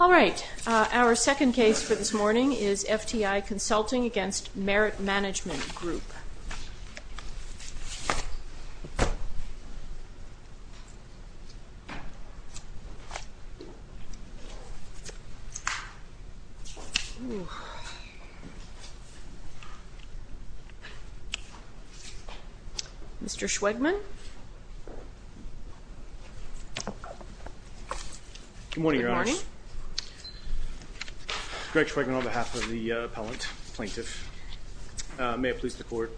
Our second case for this morning is FTI Consulting, Inc. v. Merit Management Group. Mr. Schwegman. Good morning, Your Honor. Good morning. Greg Schwegman on behalf of the appellant plaintiff. May it please the court.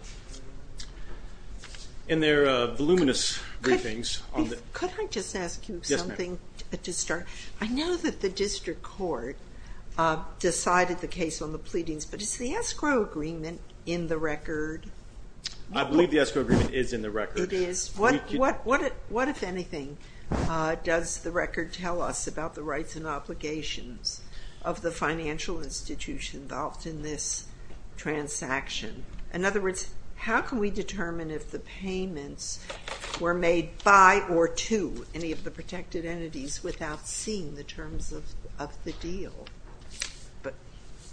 In their voluminous briefings on the- Could I just ask you something to start? Yes, ma'am. I know that the district court decided the case on the pleadings, but is the escrow agreement in the record? I believe the escrow agreement is in the record. It is. What, if anything, does the record tell us about the rights and obligations of the financial institution involved in this transaction? In other words, how can we determine if the payments were made by or to any of the protected entities without seeing the terms of the deal?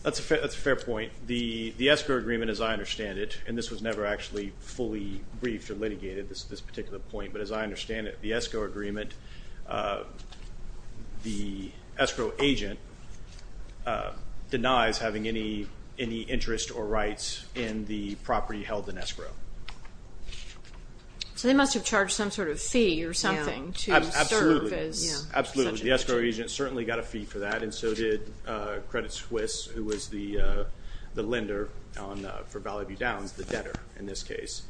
That's a fair point. The escrow agreement, as I understand it, and this was never actually fully briefed or litigated, this particular point, but as I understand it, the escrow agreement, the escrow agent denies having any interest or rights in the property held in escrow. So they must have charged some sort of fee or something to serve as- Absolutely. The escrow agent certainly got a fee for that, and so did Credit Swiss, who was the lender for Valley View Downs, the debtor in this case.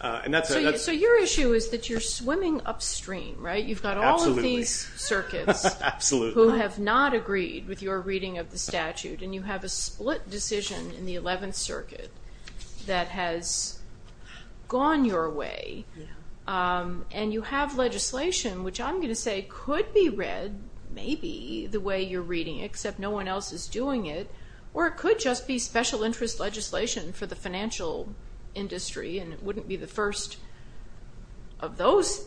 So your issue is that you're swimming upstream, right? Absolutely. You've got all of these circuits who have not agreed with your reading of the statute, and you have a split decision in the 11th Circuit that has gone your way, and you have legislation which I'm going to say could be read maybe the way you're reading, except no one else is doing it, or it could just be special interest legislation for the financial industry, and it wouldn't be the first of those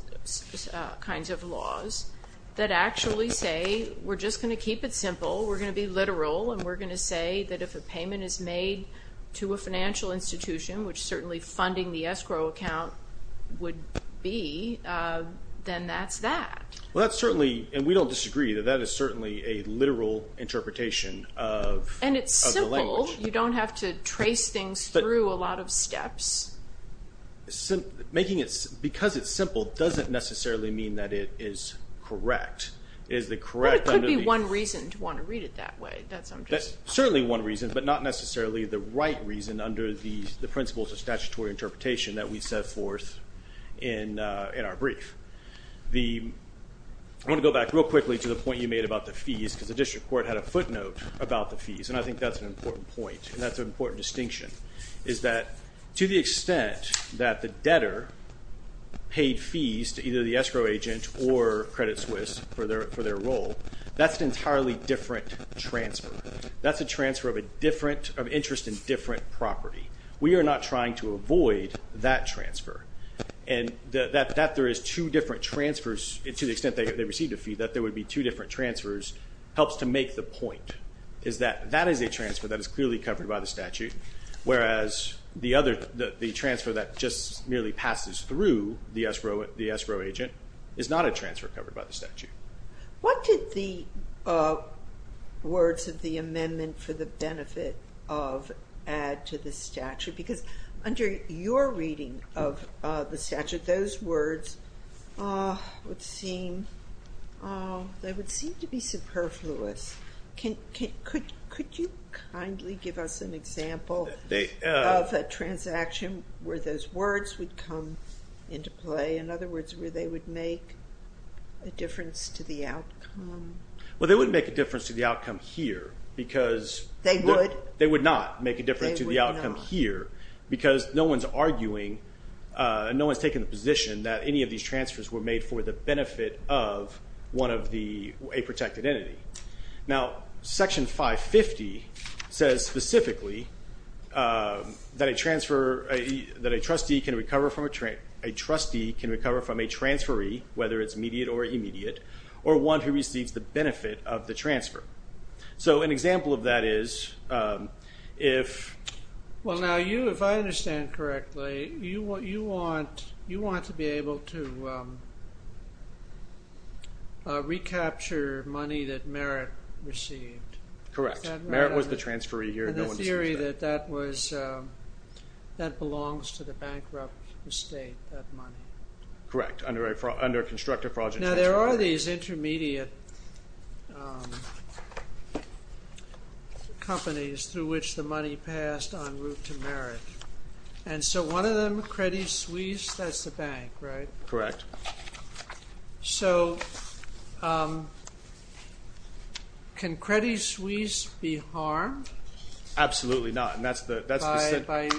kinds of laws that actually say, we're just going to keep it simple, we're going to be literal, and we're going to say that if a payment is made to a financial institution, which certainly funding the escrow account would be, then that's that. Well, that's certainly, and we don't disagree, that that is certainly a literal interpretation of the language. And it's simple. You don't have to trace things through a lot of steps. Because it's simple doesn't necessarily mean that it is correct. But it could be one reason to want to read it that way. That's certainly one reason, but not necessarily the right reason under the principles of statutory interpretation that we set forth in our brief. I want to go back real quickly to the point you made about the fees, because the District Court had a footnote about the fees, and I think that's an important point, and that's an important distinction, is that to the extent that the debtor paid fees to either the escrow agent or Credit Suisse for their role, that's an entirely different transfer. That's a transfer of interest in different property. We are not trying to avoid that transfer. And that there is two different transfers, to the extent they received a fee, that there would be two different transfers helps to make the point, is that that is a transfer that is clearly covered by the statute, whereas the transfer that just merely passes through the escrow agent is not a transfer covered by the statute. What did the words of the amendment for the benefit of add to the statute? Because under your reading of the statute, those words would seem to be superfluous. Could you kindly give us an example of a transaction where those words would come into play? In other words, where they would make a difference to the outcome? Well, they wouldn't make a difference to the outcome here, because they would not make a difference to the outcome here, because no one's arguing, no one's taking the position that any of these transfers were made for the benefit of a protected entity. Now, Section 550 says specifically that a trustee can recover from a transferee, whether it's immediate or immediate, or one who receives the benefit of the transfer. So an example of that is if... Well, now you, if I understand correctly, you want to be able to And the theory that that was, that belongs to the bankrupt estate, that money. Correct, under a constructive fraudulent transfer. Now, there are these intermediate companies through which the money passed en route to merit. And so one of them, Credit Suisse, that's the bank, right? Correct. So, can Credit Suisse be harmed? Absolutely not, and that's the By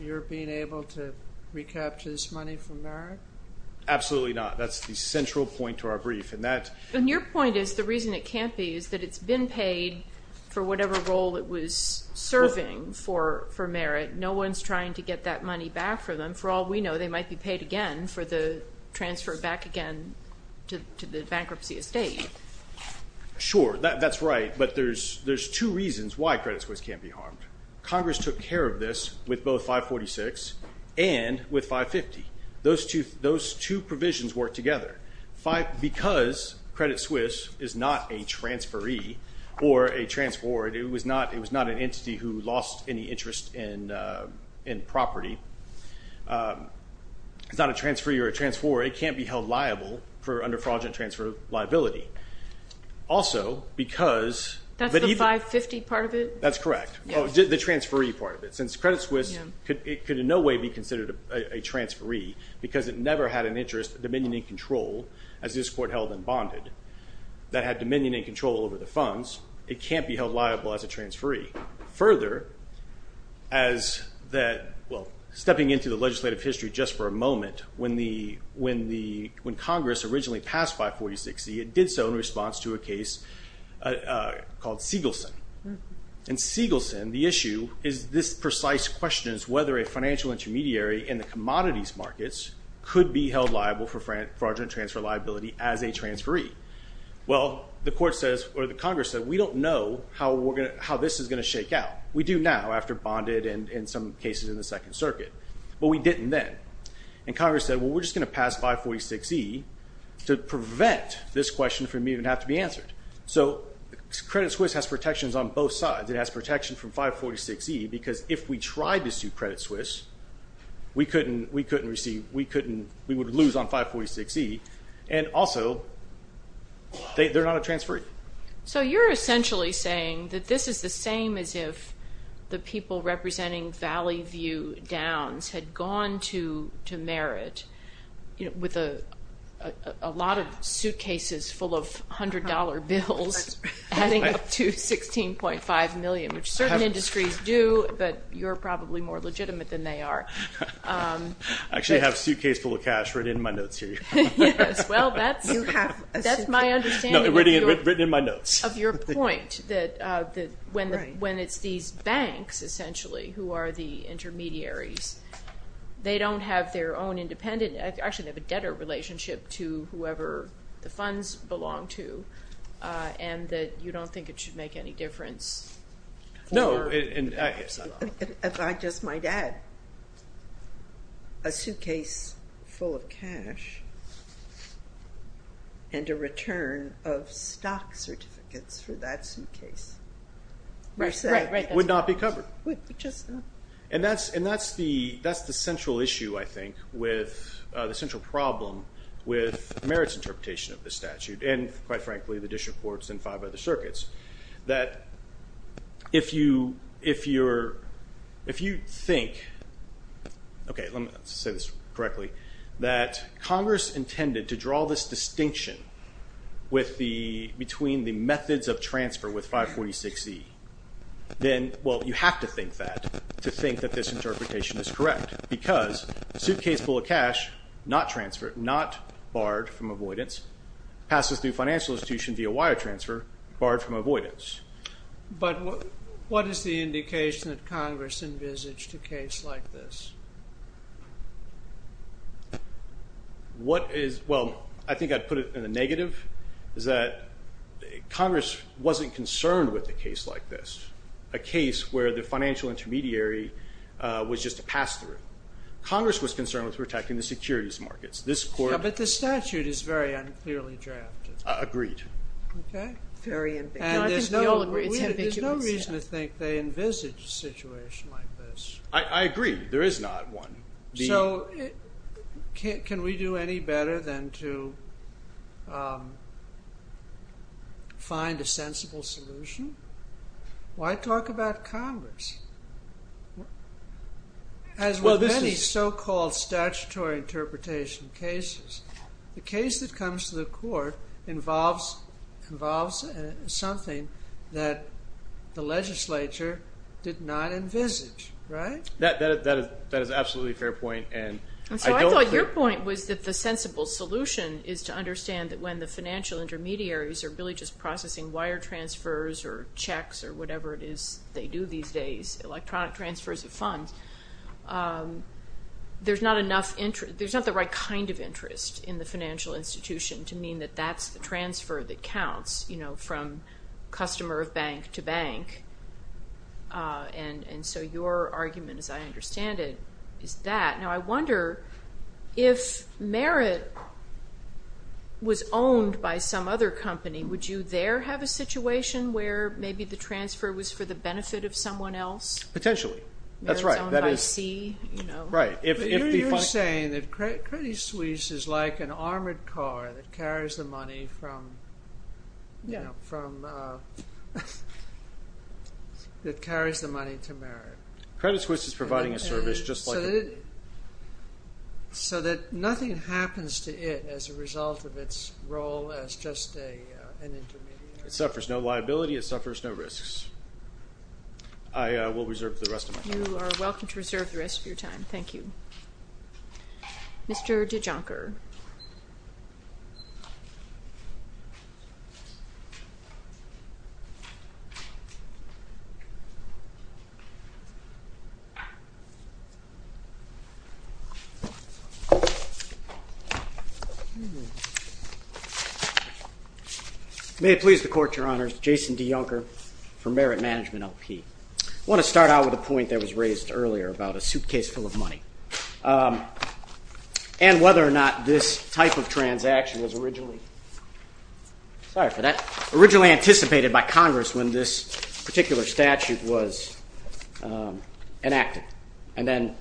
your being able to recapture this money for merit? Absolutely not. That's the central point to our brief. And your point is the reason it can't be is that it's been paid for whatever role it was serving for merit. No one's trying to get that money back for them. For all we know, they might be paid again for the transfer back again to the bankruptcy estate. Sure, that's right, but there's two reasons why Credit Suisse can't be harmed. Congress took care of this with both 546 and with 550. Those two provisions work together. Because Credit Suisse is not a transferee or a transferee. It was not an entity who lost any interest in property. It's not a transferee or a transferee. It can't be held liable for under fraudulent transfer liability. Also, because That's the 550 part of it? That's correct, the transferee part of it. Since Credit Suisse could in no way be considered a transferee because it never had an interest dominion and control, as this court held and bonded, that had dominion and control over the funds, it can't be held liable as a transferee. Further, stepping into the legislative history just for a moment, when Congress originally passed 546C, it did so in response to a case called Siegelson. In Siegelson, the issue is this precise question is whether a financial intermediary in the commodities markets could be held liable for fraudulent transfer liability as a transferee. Well, the Congress said, we don't know how this is going to shake out. We do now after bonded and some cases in the Second Circuit. But we didn't then. And Congress said, well, we're just going to pass 546E to prevent this question from even having to be answered. So Credit Suisse has protections on both sides. It has protection from 546E because if we tried to sue Credit Suisse, we couldn't receive, we would lose on 546E. And also, they're not a transferee. So you're essentially saying that this is the same as if the people representing Valley View Downs had gone to merit with a lot of suitcases full of $100 bills adding up to $16.5 million, which certain industries do, but you're probably more legitimate than they are. I actually have a suitcase full of cash written in my notes here. Well, that's my understanding. No, written in my notes. Of your point that when it's these banks, essentially, who are the intermediaries, they don't have their own independent, actually, they have a debtor relationship to whoever the funds belong to, and that you don't think it should make any difference. No. I just might add a suitcase full of cash and a return of stock certificates for that suitcase would not be covered. And that's the central issue, I think, the central problem with merits interpretation of this statute, and quite frankly, the district courts and five other circuits, that if you think, okay, let me say this correctly, that Congress intended to draw this distinction between the methods of transfer with 546Z, then, well, you have to think that to think that this interpretation is correct, because suitcase full of cash, not transferred, not barred from avoidance, passes through financial institution via wire transfer, barred from avoidance. But what is the indication that Congress envisaged a case like this? What is, well, I think I'd put it in a negative, is that Congress wasn't concerned with a case like this, a case where the financial intermediary was just a pass-through. Congress was concerned with protecting the securities markets. But the statute is very unclearly drafted. Agreed. Very ambiguous. And there's no reason to think they envisaged a situation like this. I agree. There is not one. So can we do any better than to find a sensible solution? Why talk about Congress? As with many so-called statutory interpretation cases, the case that comes to the court involves something that the legislature did not envisage, right? That is absolutely a fair point. And so I thought your point was that the sensible solution is to understand that when the financial intermediaries are really just processing wire transfers or checks or whatever it is they do these days, electronic transfers of funds, there's not the right kind of interest in the financial institution to mean that that's the transfer that counts from customer of bank to bank. And so your argument, as I understand it, is that. Now I wonder if Merit was owned by some other company, would you there have a situation where maybe the transfer was for the benefit of someone else? Potentially. That's right. Merit is owned by C. You're saying that Credit Suisse is like an armored car that carries the money from. That carries the money to Merit. Credit Suisse is providing a service just like It suffers no liability. It suffers no risks. I will reserve the rest of my time. You are welcome to reserve the rest of your time. Thank you. Mr. DeJoncker. May it please the Court, Your Honors. Jason DeJoncker from Merit Management LP. I want to start out with a point that was raised earlier about a suitcase full of money. And whether or not this type of transaction was originally anticipated by Congress when this particular statute was enacted and then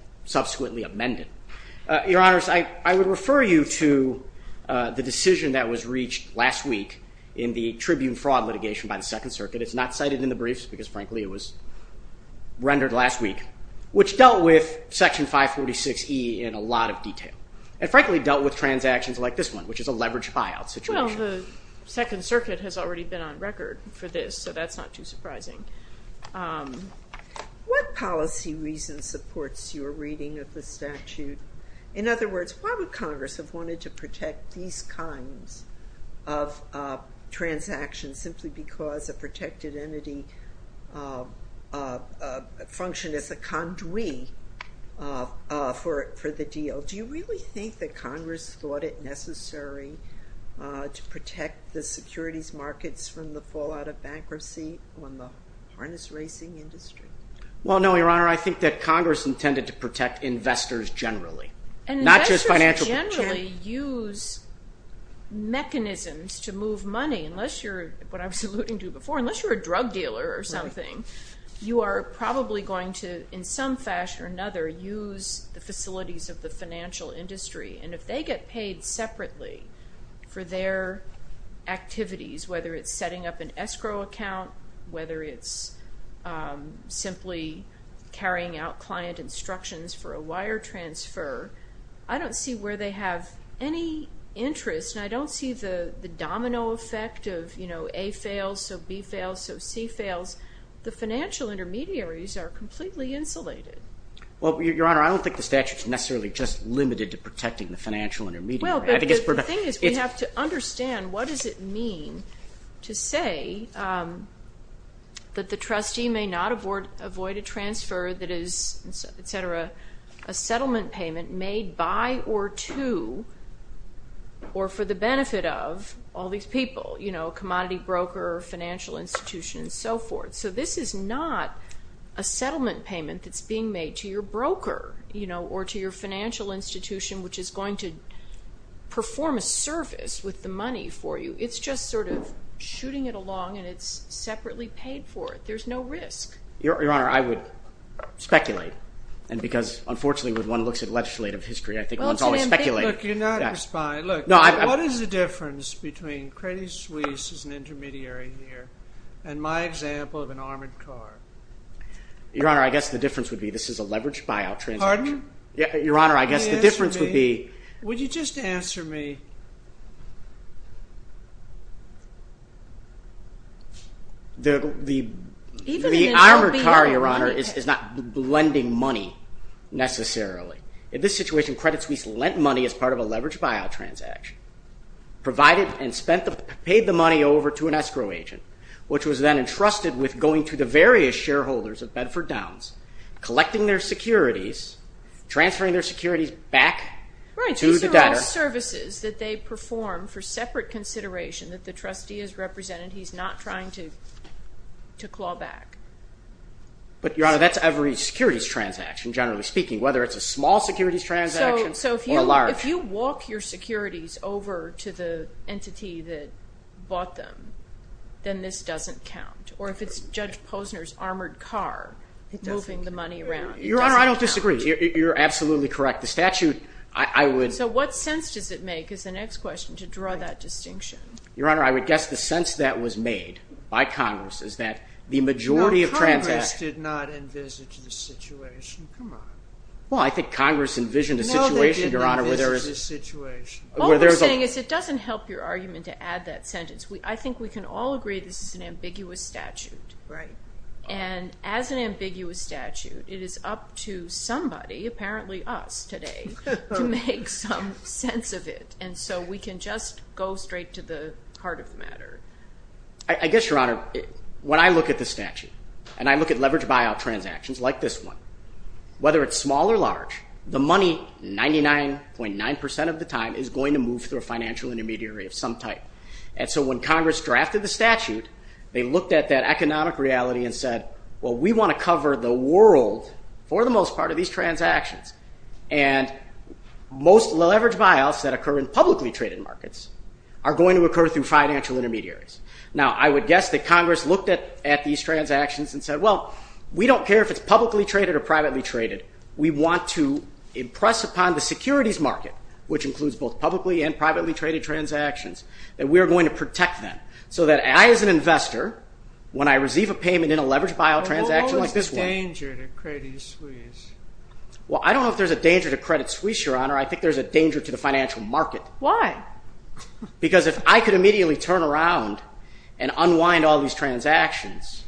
the decision that was reached last week in the Tribune fraud litigation by the Second Circuit. It's not cited in the briefs because frankly it was rendered last week, which dealt with Section 546E in a lot of detail. And frankly dealt with transactions like this one, which is a leveraged buyout situation. Well, the Second Circuit has already been on record for this, so that's not too surprising. What policy reason supports your reading of the statute? In other words, why would Congress have wanted to protect these kinds of transactions simply because a protected entity functioned as a conduit for the deal? Do you really think that Congress thought it necessary to protect the securities markets from the fallout of bankruptcy on the investors generally? And investors generally use mechanisms to move money. Unless you're, what I was alluding to before, unless you're a drug dealer or something, you are probably going to in some fashion or another use the facilities of the financial industry. And if they get paid separately for their activities, whether it's setting up an escrow account, whether it's simply carrying out client instructions for a wire transfer, I don't see where they have any interest. And I don't see the domino effect of, you know, A fails, so B fails, so C fails. The financial intermediaries are completely insulated. Well, Your Honor, I don't think the statute's necessarily just limited to protecting the financial intermediary. Well, but the thing is we have to understand what does it mean to say that the trustee may not avoid a transfer that is, et cetera, a settlement payment made by or to or for the benefit of all these people, you know, commodity broker, financial institution, and so forth. So this is not a settlement payment that's being made to your broker, you know, or to your financial institution, which is going to perform a service with the money for you. It's just sort of shooting it along and it's separately paid for. There's no risk. Your Honor, I would speculate. And because, unfortunately, when one looks at legislative history, I think one's always speculating. Look, you're not responding. Look, what is the difference between Credit Suisse as an intermediary here and my example of an armored car? Your Honor, I guess the difference would be this is a leveraged buyout transaction. Pardon? Your Honor, I guess the difference would be... Would you just answer me? The armored car, Your Honor, is not lending money, necessarily. In this situation, Credit Suisse lent money as part of a leveraged buyout transaction, provided and paid the money over to an escrow agent, which was then entrusted with going to the various shareholders of Bedford Downs, collecting their securities, transferring their securities back to the debtor. Right, because they're all services that they perform for separate consideration that the trustee has represented. He's not trying to claw back. But, Your Honor, that's every securities transaction, generally speaking, whether it's a small securities transaction or a large. So if you walk your securities over to the entity that bought them, then this doesn't count? Or if it's Judge Posner's armored car moving the money around, it doesn't count? Your Honor, I don't disagree. You're absolutely correct. The statute, I would... So what sense does it make, is the next question, to draw that distinction? Your Honor, I would guess the sense that was made by Congress is that the majority of transactions... No, Congress did not envisage this situation. Come on. Well, I think Congress envisioned a situation, Your Honor, where there is... No, they did not envisage this situation. What we're saying is it doesn't help your argument to add that sentence. I think we can all agree this is an ambiguous statute. Right. And as an ambiguous statute, it is up to somebody, apparently us, today, to make some sense of it. And so we can just go straight to the heart of the matter. I guess, Your Honor, when I look at the statute, and I look at leveraged buyout transactions like this one, whether it's small or large, the money, 99.9% of the time, is going to move through a financial intermediary of some type. And so when Congress drafted the statute, they looked at that economic reality and said, well, we want to cover the world for the most part of these publicly traded markets, are going to occur through financial intermediaries. Now, I would guess that Congress looked at these transactions and said, well, we don't care if it's publicly traded or privately traded. We want to impress upon the securities market, which includes both publicly and privately traded transactions, that we are going to protect them. So that I, as an investor, when I receive a payment in a leveraged buyout transaction like this one... What was the danger to Credit Suisse? Well, I don't know if there's a danger to Credit Suisse, Your Honor. I think there's a danger to the financial market. Why? Because if I could immediately turn around and unwind all these transactions,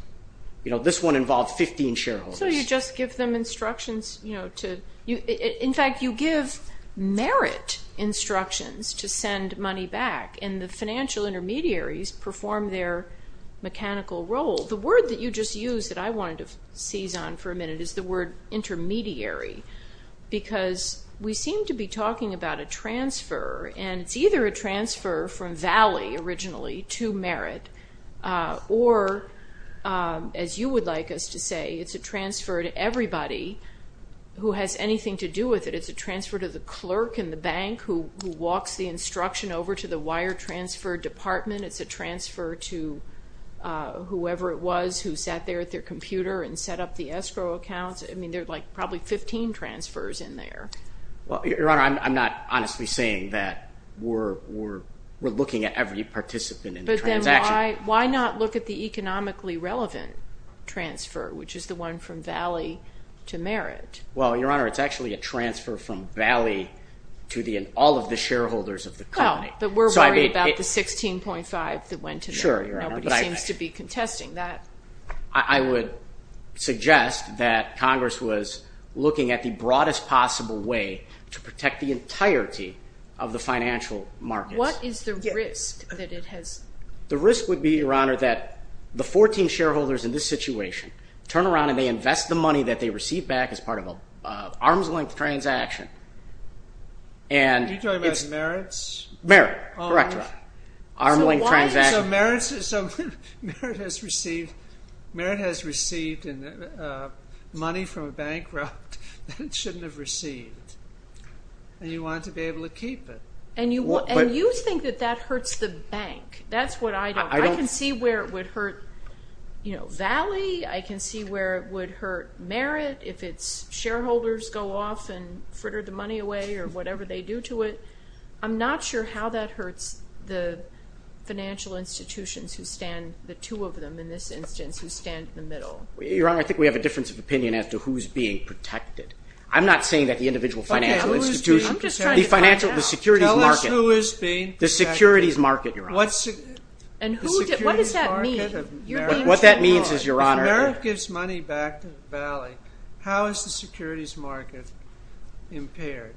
this one involved 15 shareholders. So you just give them instructions to... In fact, you give merit instructions to send money back, and the financial intermediaries perform their mechanical role. The word that you just used that I wanted to seize on for a minute is the word intermediary, because we seem to be talking about a transfer, and it's either a transfer from Valley originally to merit, or as you would like us to say, it's a transfer to everybody who has anything to do with it. It's a transfer to the clerk in the bank who walks the instruction over to the wire transfer department. It's a transfer to whoever it was who sat there at their computer and set up the escrow accounts. I mean, there are probably 15 transfers in there. Your Honor, I'm not honestly saying that we're looking at every participant in the transaction. But then why not look at the economically relevant transfer, which is the one from Valley to merit? Well, Your Honor, it's actually a transfer from Valley to all of the shareholders of the company. But we're worried about the 16.5 that went to them. Nobody seems to be contesting that. I would suggest that Congress was looking at the broadest possible way to protect the entirety of the financial markets. What is the risk that it has? The risk would be, Your Honor, that the 14 arms length transaction. Are you talking about merits? Merit, correct. Arms length transaction. So merit has received money from a bank that it shouldn't have received. And you want to be able to keep it. And you think that that hurts the bank. That's what I don't think. I can see where it would hurt Valley. I can see where it would hurt merit if its shareholders go off and fritter the money away or whatever they do to it. I'm not sure how that hurts the financial institutions who stand, the two of them in this instance, who stand in the middle. Your Honor, I think we have a difference of opinion as to who's being protected. I'm not saying that the individual financial institutions. The financial, the securities market. Tell us who is being protected. What does that mean? If merit gives money back to Valley, how is the securities market impaired?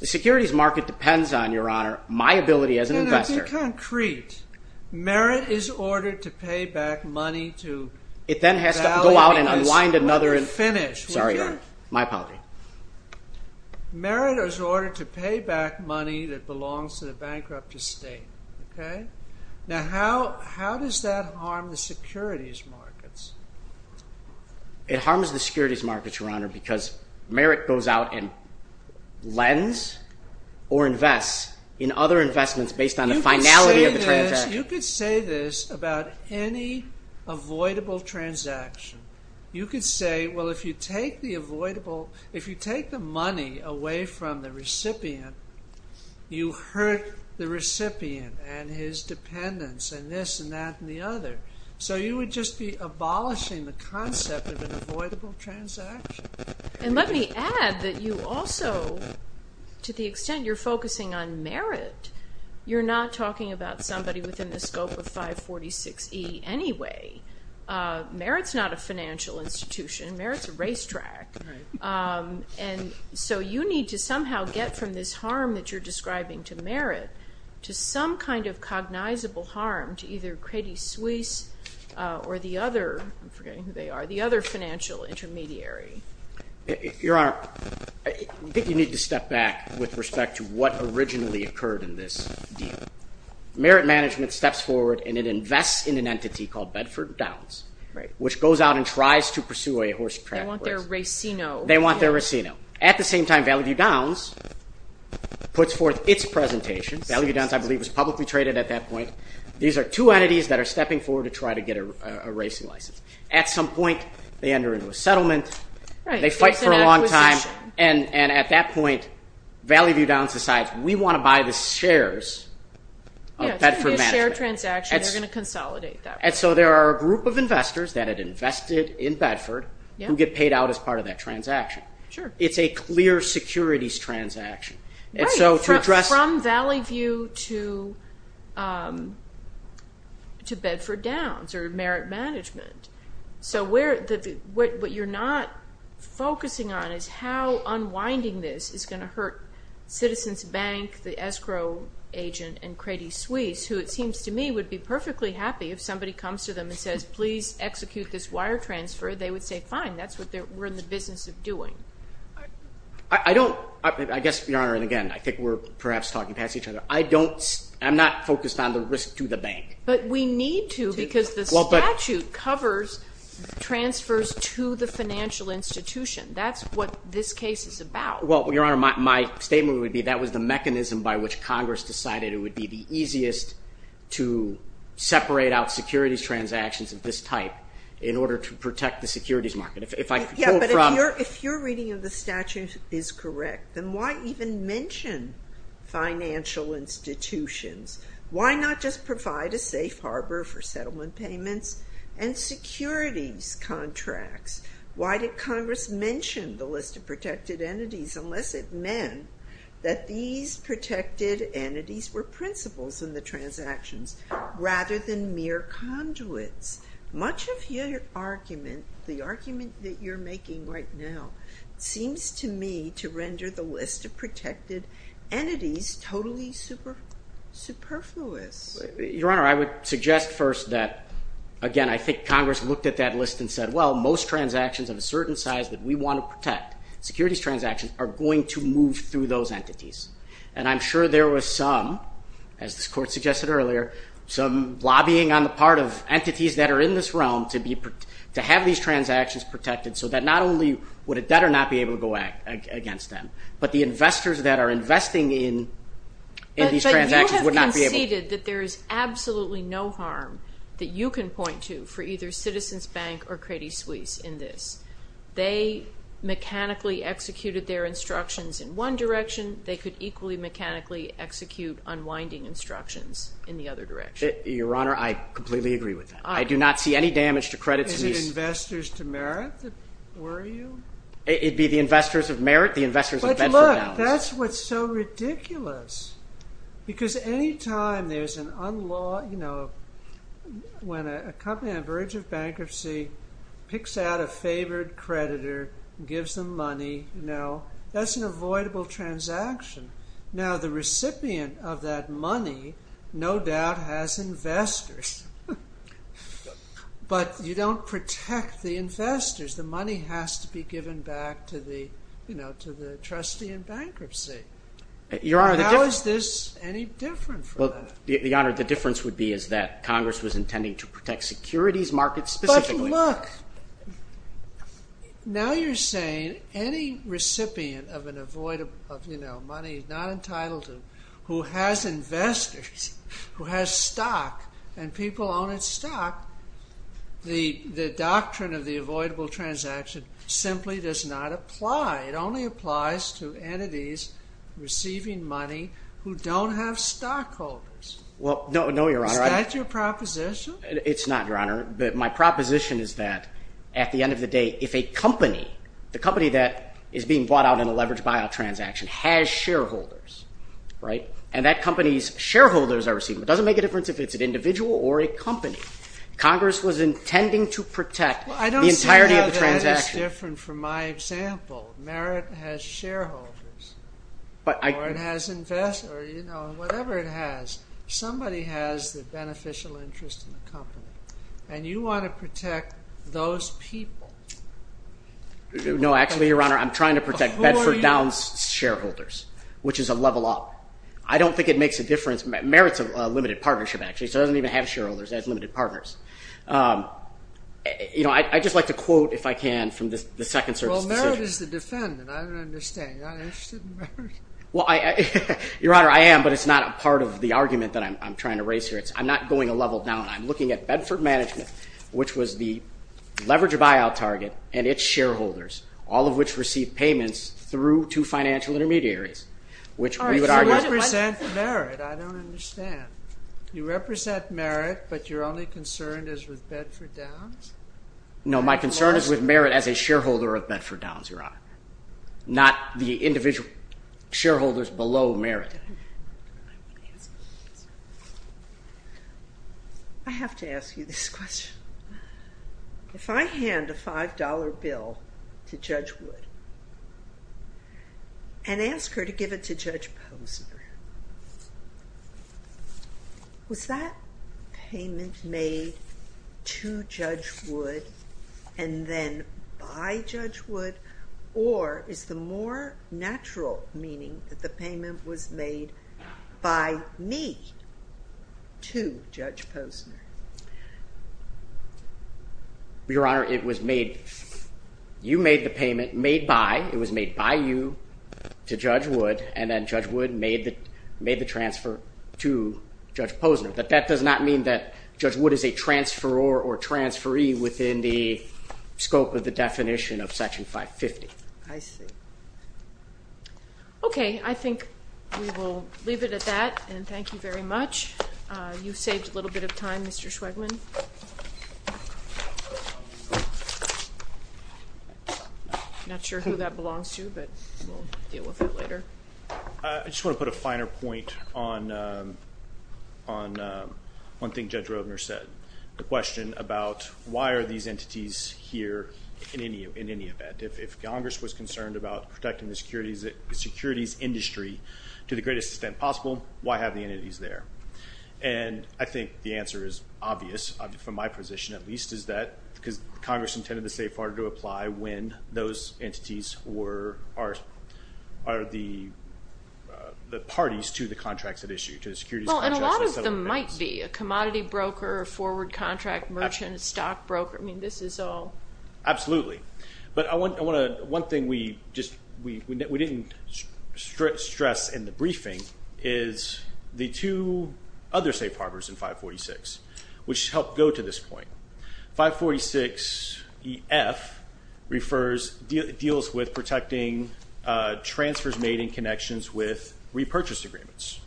The securities market depends on, Your Honor, my ability as an investor. In concrete, merit is ordered to pay back money to Valley. It then has to go out and unwind another. Sorry, Your Honor. My apology. Merit is ordered to pay back money that belongs to the bankrupt estate. Now how does that harm the securities markets? It harms the securities markets, Your Honor, because merit goes out and lends or invests in other investments based on the finality of the transaction. You could say this about any avoidable transaction. You could say, well, if you take the avoidable, if you take the money away from the recipient, you hurt the recipient and his dependents and this and that and the other. So you would just be abolishing the concept of an avoidable transaction. And let me add that you also, to the extent you're focusing on merit, you're not talking about somebody within the scope of 546E anyway. Merit's not a financial institution. Merit's a racetrack. And so you need to somehow get from this harm that you're describing to merit to some kind of cognizable harm to either Credit Suisse or the other, I'm forgetting who they are, the other financial intermediary. Your Honor, I think you need to step back with respect to what originally occurred in this deal. Merit management steps forward and it invests in an entity called Bedford Downs, which goes out and tries to pursue a horse track. They want their racino. At the same time, Value Downs puts forth its presentation. Value Downs, I believe, was publicly traded at that point. These are two entities that are They fight for a long time. And at that point, Value Downs decides, we want to buy the shares of Bedford Management. It's going to be a share transaction. They're going to consolidate that. And so there are a group of investors that had invested in Bedford who get paid out as part of that transaction. It's a clear securities transaction. From Value to Bedford Management. So what you're not focusing on is how unwinding this is going to hurt Citizens Bank, the escrow agent, and Credit Suisse, who it seems to me would be perfectly happy if somebody comes to them and says, please execute this wire transfer. They would say, fine. That's what we're in the business of doing. I guess, Your Honor, and again, I think we're perhaps talking past each other. I'm not focused on the risk to the bank. But we need to because the statute covers transfers to the financial institution. That's what this case is about. Well, Your Honor, my statement would be that was the mechanism by which Congress decided it would be the easiest to separate out securities transactions of this type in order to protect the securities market. But if you're reading and the statute is correct, then why even mention financial institutions? Why not just provide a safe harbor for settlement payments and securities contracts? Why did Congress mention the list of protected entities unless it meant that these protected entities were principles in the transactions rather than mere conduits? Much of your argument, the argument that you're making right now, seems to me to render the list of protected entities totally superfluous. Your Honor, I would suggest first that, again, I think Congress looked at that list and said, well, most transactions of a certain size that we want to protect, securities transactions, are going to move through those entities. And I'm sure there were some, as this Court suggested earlier, some lobbying on the part of entities that are in this realm to have these transactions protected so that not only would a debtor not be able to go against them, but the investors that are investing in these transactions would not be able to. But you have conceded that there is absolutely no harm that you can point to for either Citizens Bank or Credit Suisse in this. They mechanically executed their instructions in one direction. They could equally mechanically execute unwinding instructions in the other direction. Your Honor, I completely agree with that. I do not see any damage to Credit Suisse. Is it investors to merit that worry you? It would be the investors of merit, the investors of balance. But look, that's what's so ridiculous. Because any time there's an unlawful, you know, when a company on the verge of bankruptcy picks out a favored creditor and gives them money, you know, that's an avoidable transaction. Now the recipient of that money no doubt has investors. But you don't protect the investors. The money has to be given back to the, you know, to the trustee in bankruptcy. Your Honor, how is this any different from that? Well, Your Honor, the difference would be is that Congress was intending to protect securities markets specifically. But look, now you're saying any recipient of an avoidable, you know, money not entitled to, who has investors, who has stock and people own its stock, the doctrine of the avoidable transaction simply does not apply. It only applies to entities receiving money who don't have stockholders. Well, no, Your Honor. Is that your proposition? It's not, Your Honor. But my proposition is that at the end of the day, if a company, the company that is being bought out in a leveraged buyout transaction has shareholders, right, and that company's shareholders are receiving, it doesn't make a difference if it's an individual or a company. Congress was saying, well, Merit has shareholders, or it has investors, or, you know, whatever it has. Somebody has the beneficial interest in the company, and you want to protect those people. No, actually, Your Honor, I'm trying to protect Bedford Downs shareholders, which is a level up. I don't think it makes a difference. Merit's a limited partnership, actually, so it doesn't even have shareholders. It has limited partners. You know, I'd just like to quote, if I can, from the Second Service decision. Well, Merit is the defendant. I don't understand. You're not interested in Merit? Your Honor, I am, but it's not part of the argument that I'm trying to raise here. I'm not going a level down. I'm looking at Bedford Management, which was the leveraged buyout target and its shareholders, all of which received payments through two financial intermediaries, which we would argue represent Merit. I don't understand. You represent Merit, but your only concern is with Bedford Downs? No, my concern is with Merit as a shareholder of Bedford Downs, Your Honor, not the individual shareholders below Merit. I have to ask you this question. If I hand a $5 bill to Judge Posner, was that payment made to Judge Wood and then by Judge Wood, or is the more natural meaning that the payment was made by me to Judge Posner? Your Honor, it was made by you to Judge Wood, and then Judge Wood made the transfer to Judge Posner. That does not mean that Judge Wood is a transferor or transferee within the scope of the definition of Section 550. Okay, I think we will leave it at that, and thank you very much. You saved a little bit of time, Mr. Schweigman. I'm not sure who that belongs to, but we'll deal with it later. I just want to put a finer point on one thing Judge Roedner said, the question about why are these entities here in any event? If Congress was concerned about protecting the entities, and I think the answer is obvious, from my position at least, is that Congress intended the State of Florida to apply when those entities are the parties to the contracts at issue, to the securities contracts. And a lot of them might be, a commodity broker, a forward contract merchant, a stock broker. Absolutely, but one thing we know is that there are other safe harbors in 546, which help go to this point. 546EF refers, deals with protecting transfers made in connections with repurchase agreements.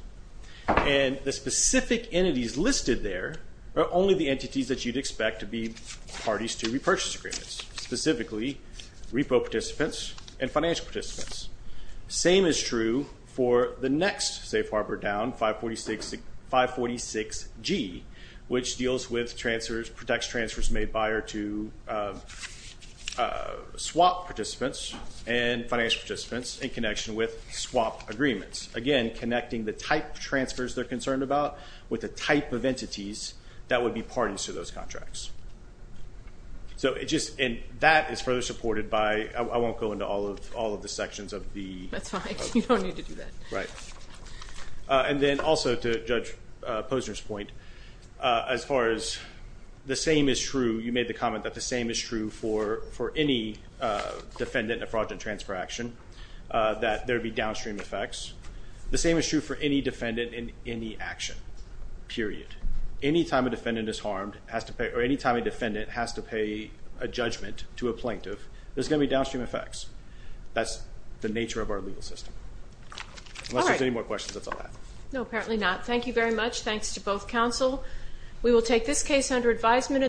And the specific entities listed there are only the entities that you'd expect to be parties to repurchase agreements, specifically repo participants and financial participants. Same is true for the next safe harbor down, 546G, which deals with transfers, protects transfers made by or to swap participants and financial participants in connection with swap agreements. Again, connecting the type of transfers they're concerned about with the type of entities that would be parties to those contracts. So it just, and that is further supported by, I won't go into all of the sections of the. That's fine, you don't need to do that. Right. And then also to Judge Posner's point, as far as the same is true, you made the comment that the same is true for any defendant in a fraudulent transfer action, that there would be downstream effects. The same is true for any defendant in any action, period. Any time a defendant is harmed or any time a defendant has to pay a judgment to a plaintiff, there's going to be downstream effects. That's the nature of our legal system. Unless there's any more questions, that's all I have. No, apparently not. Thank you very much. Thanks to both counsel. We will take this case under advisement.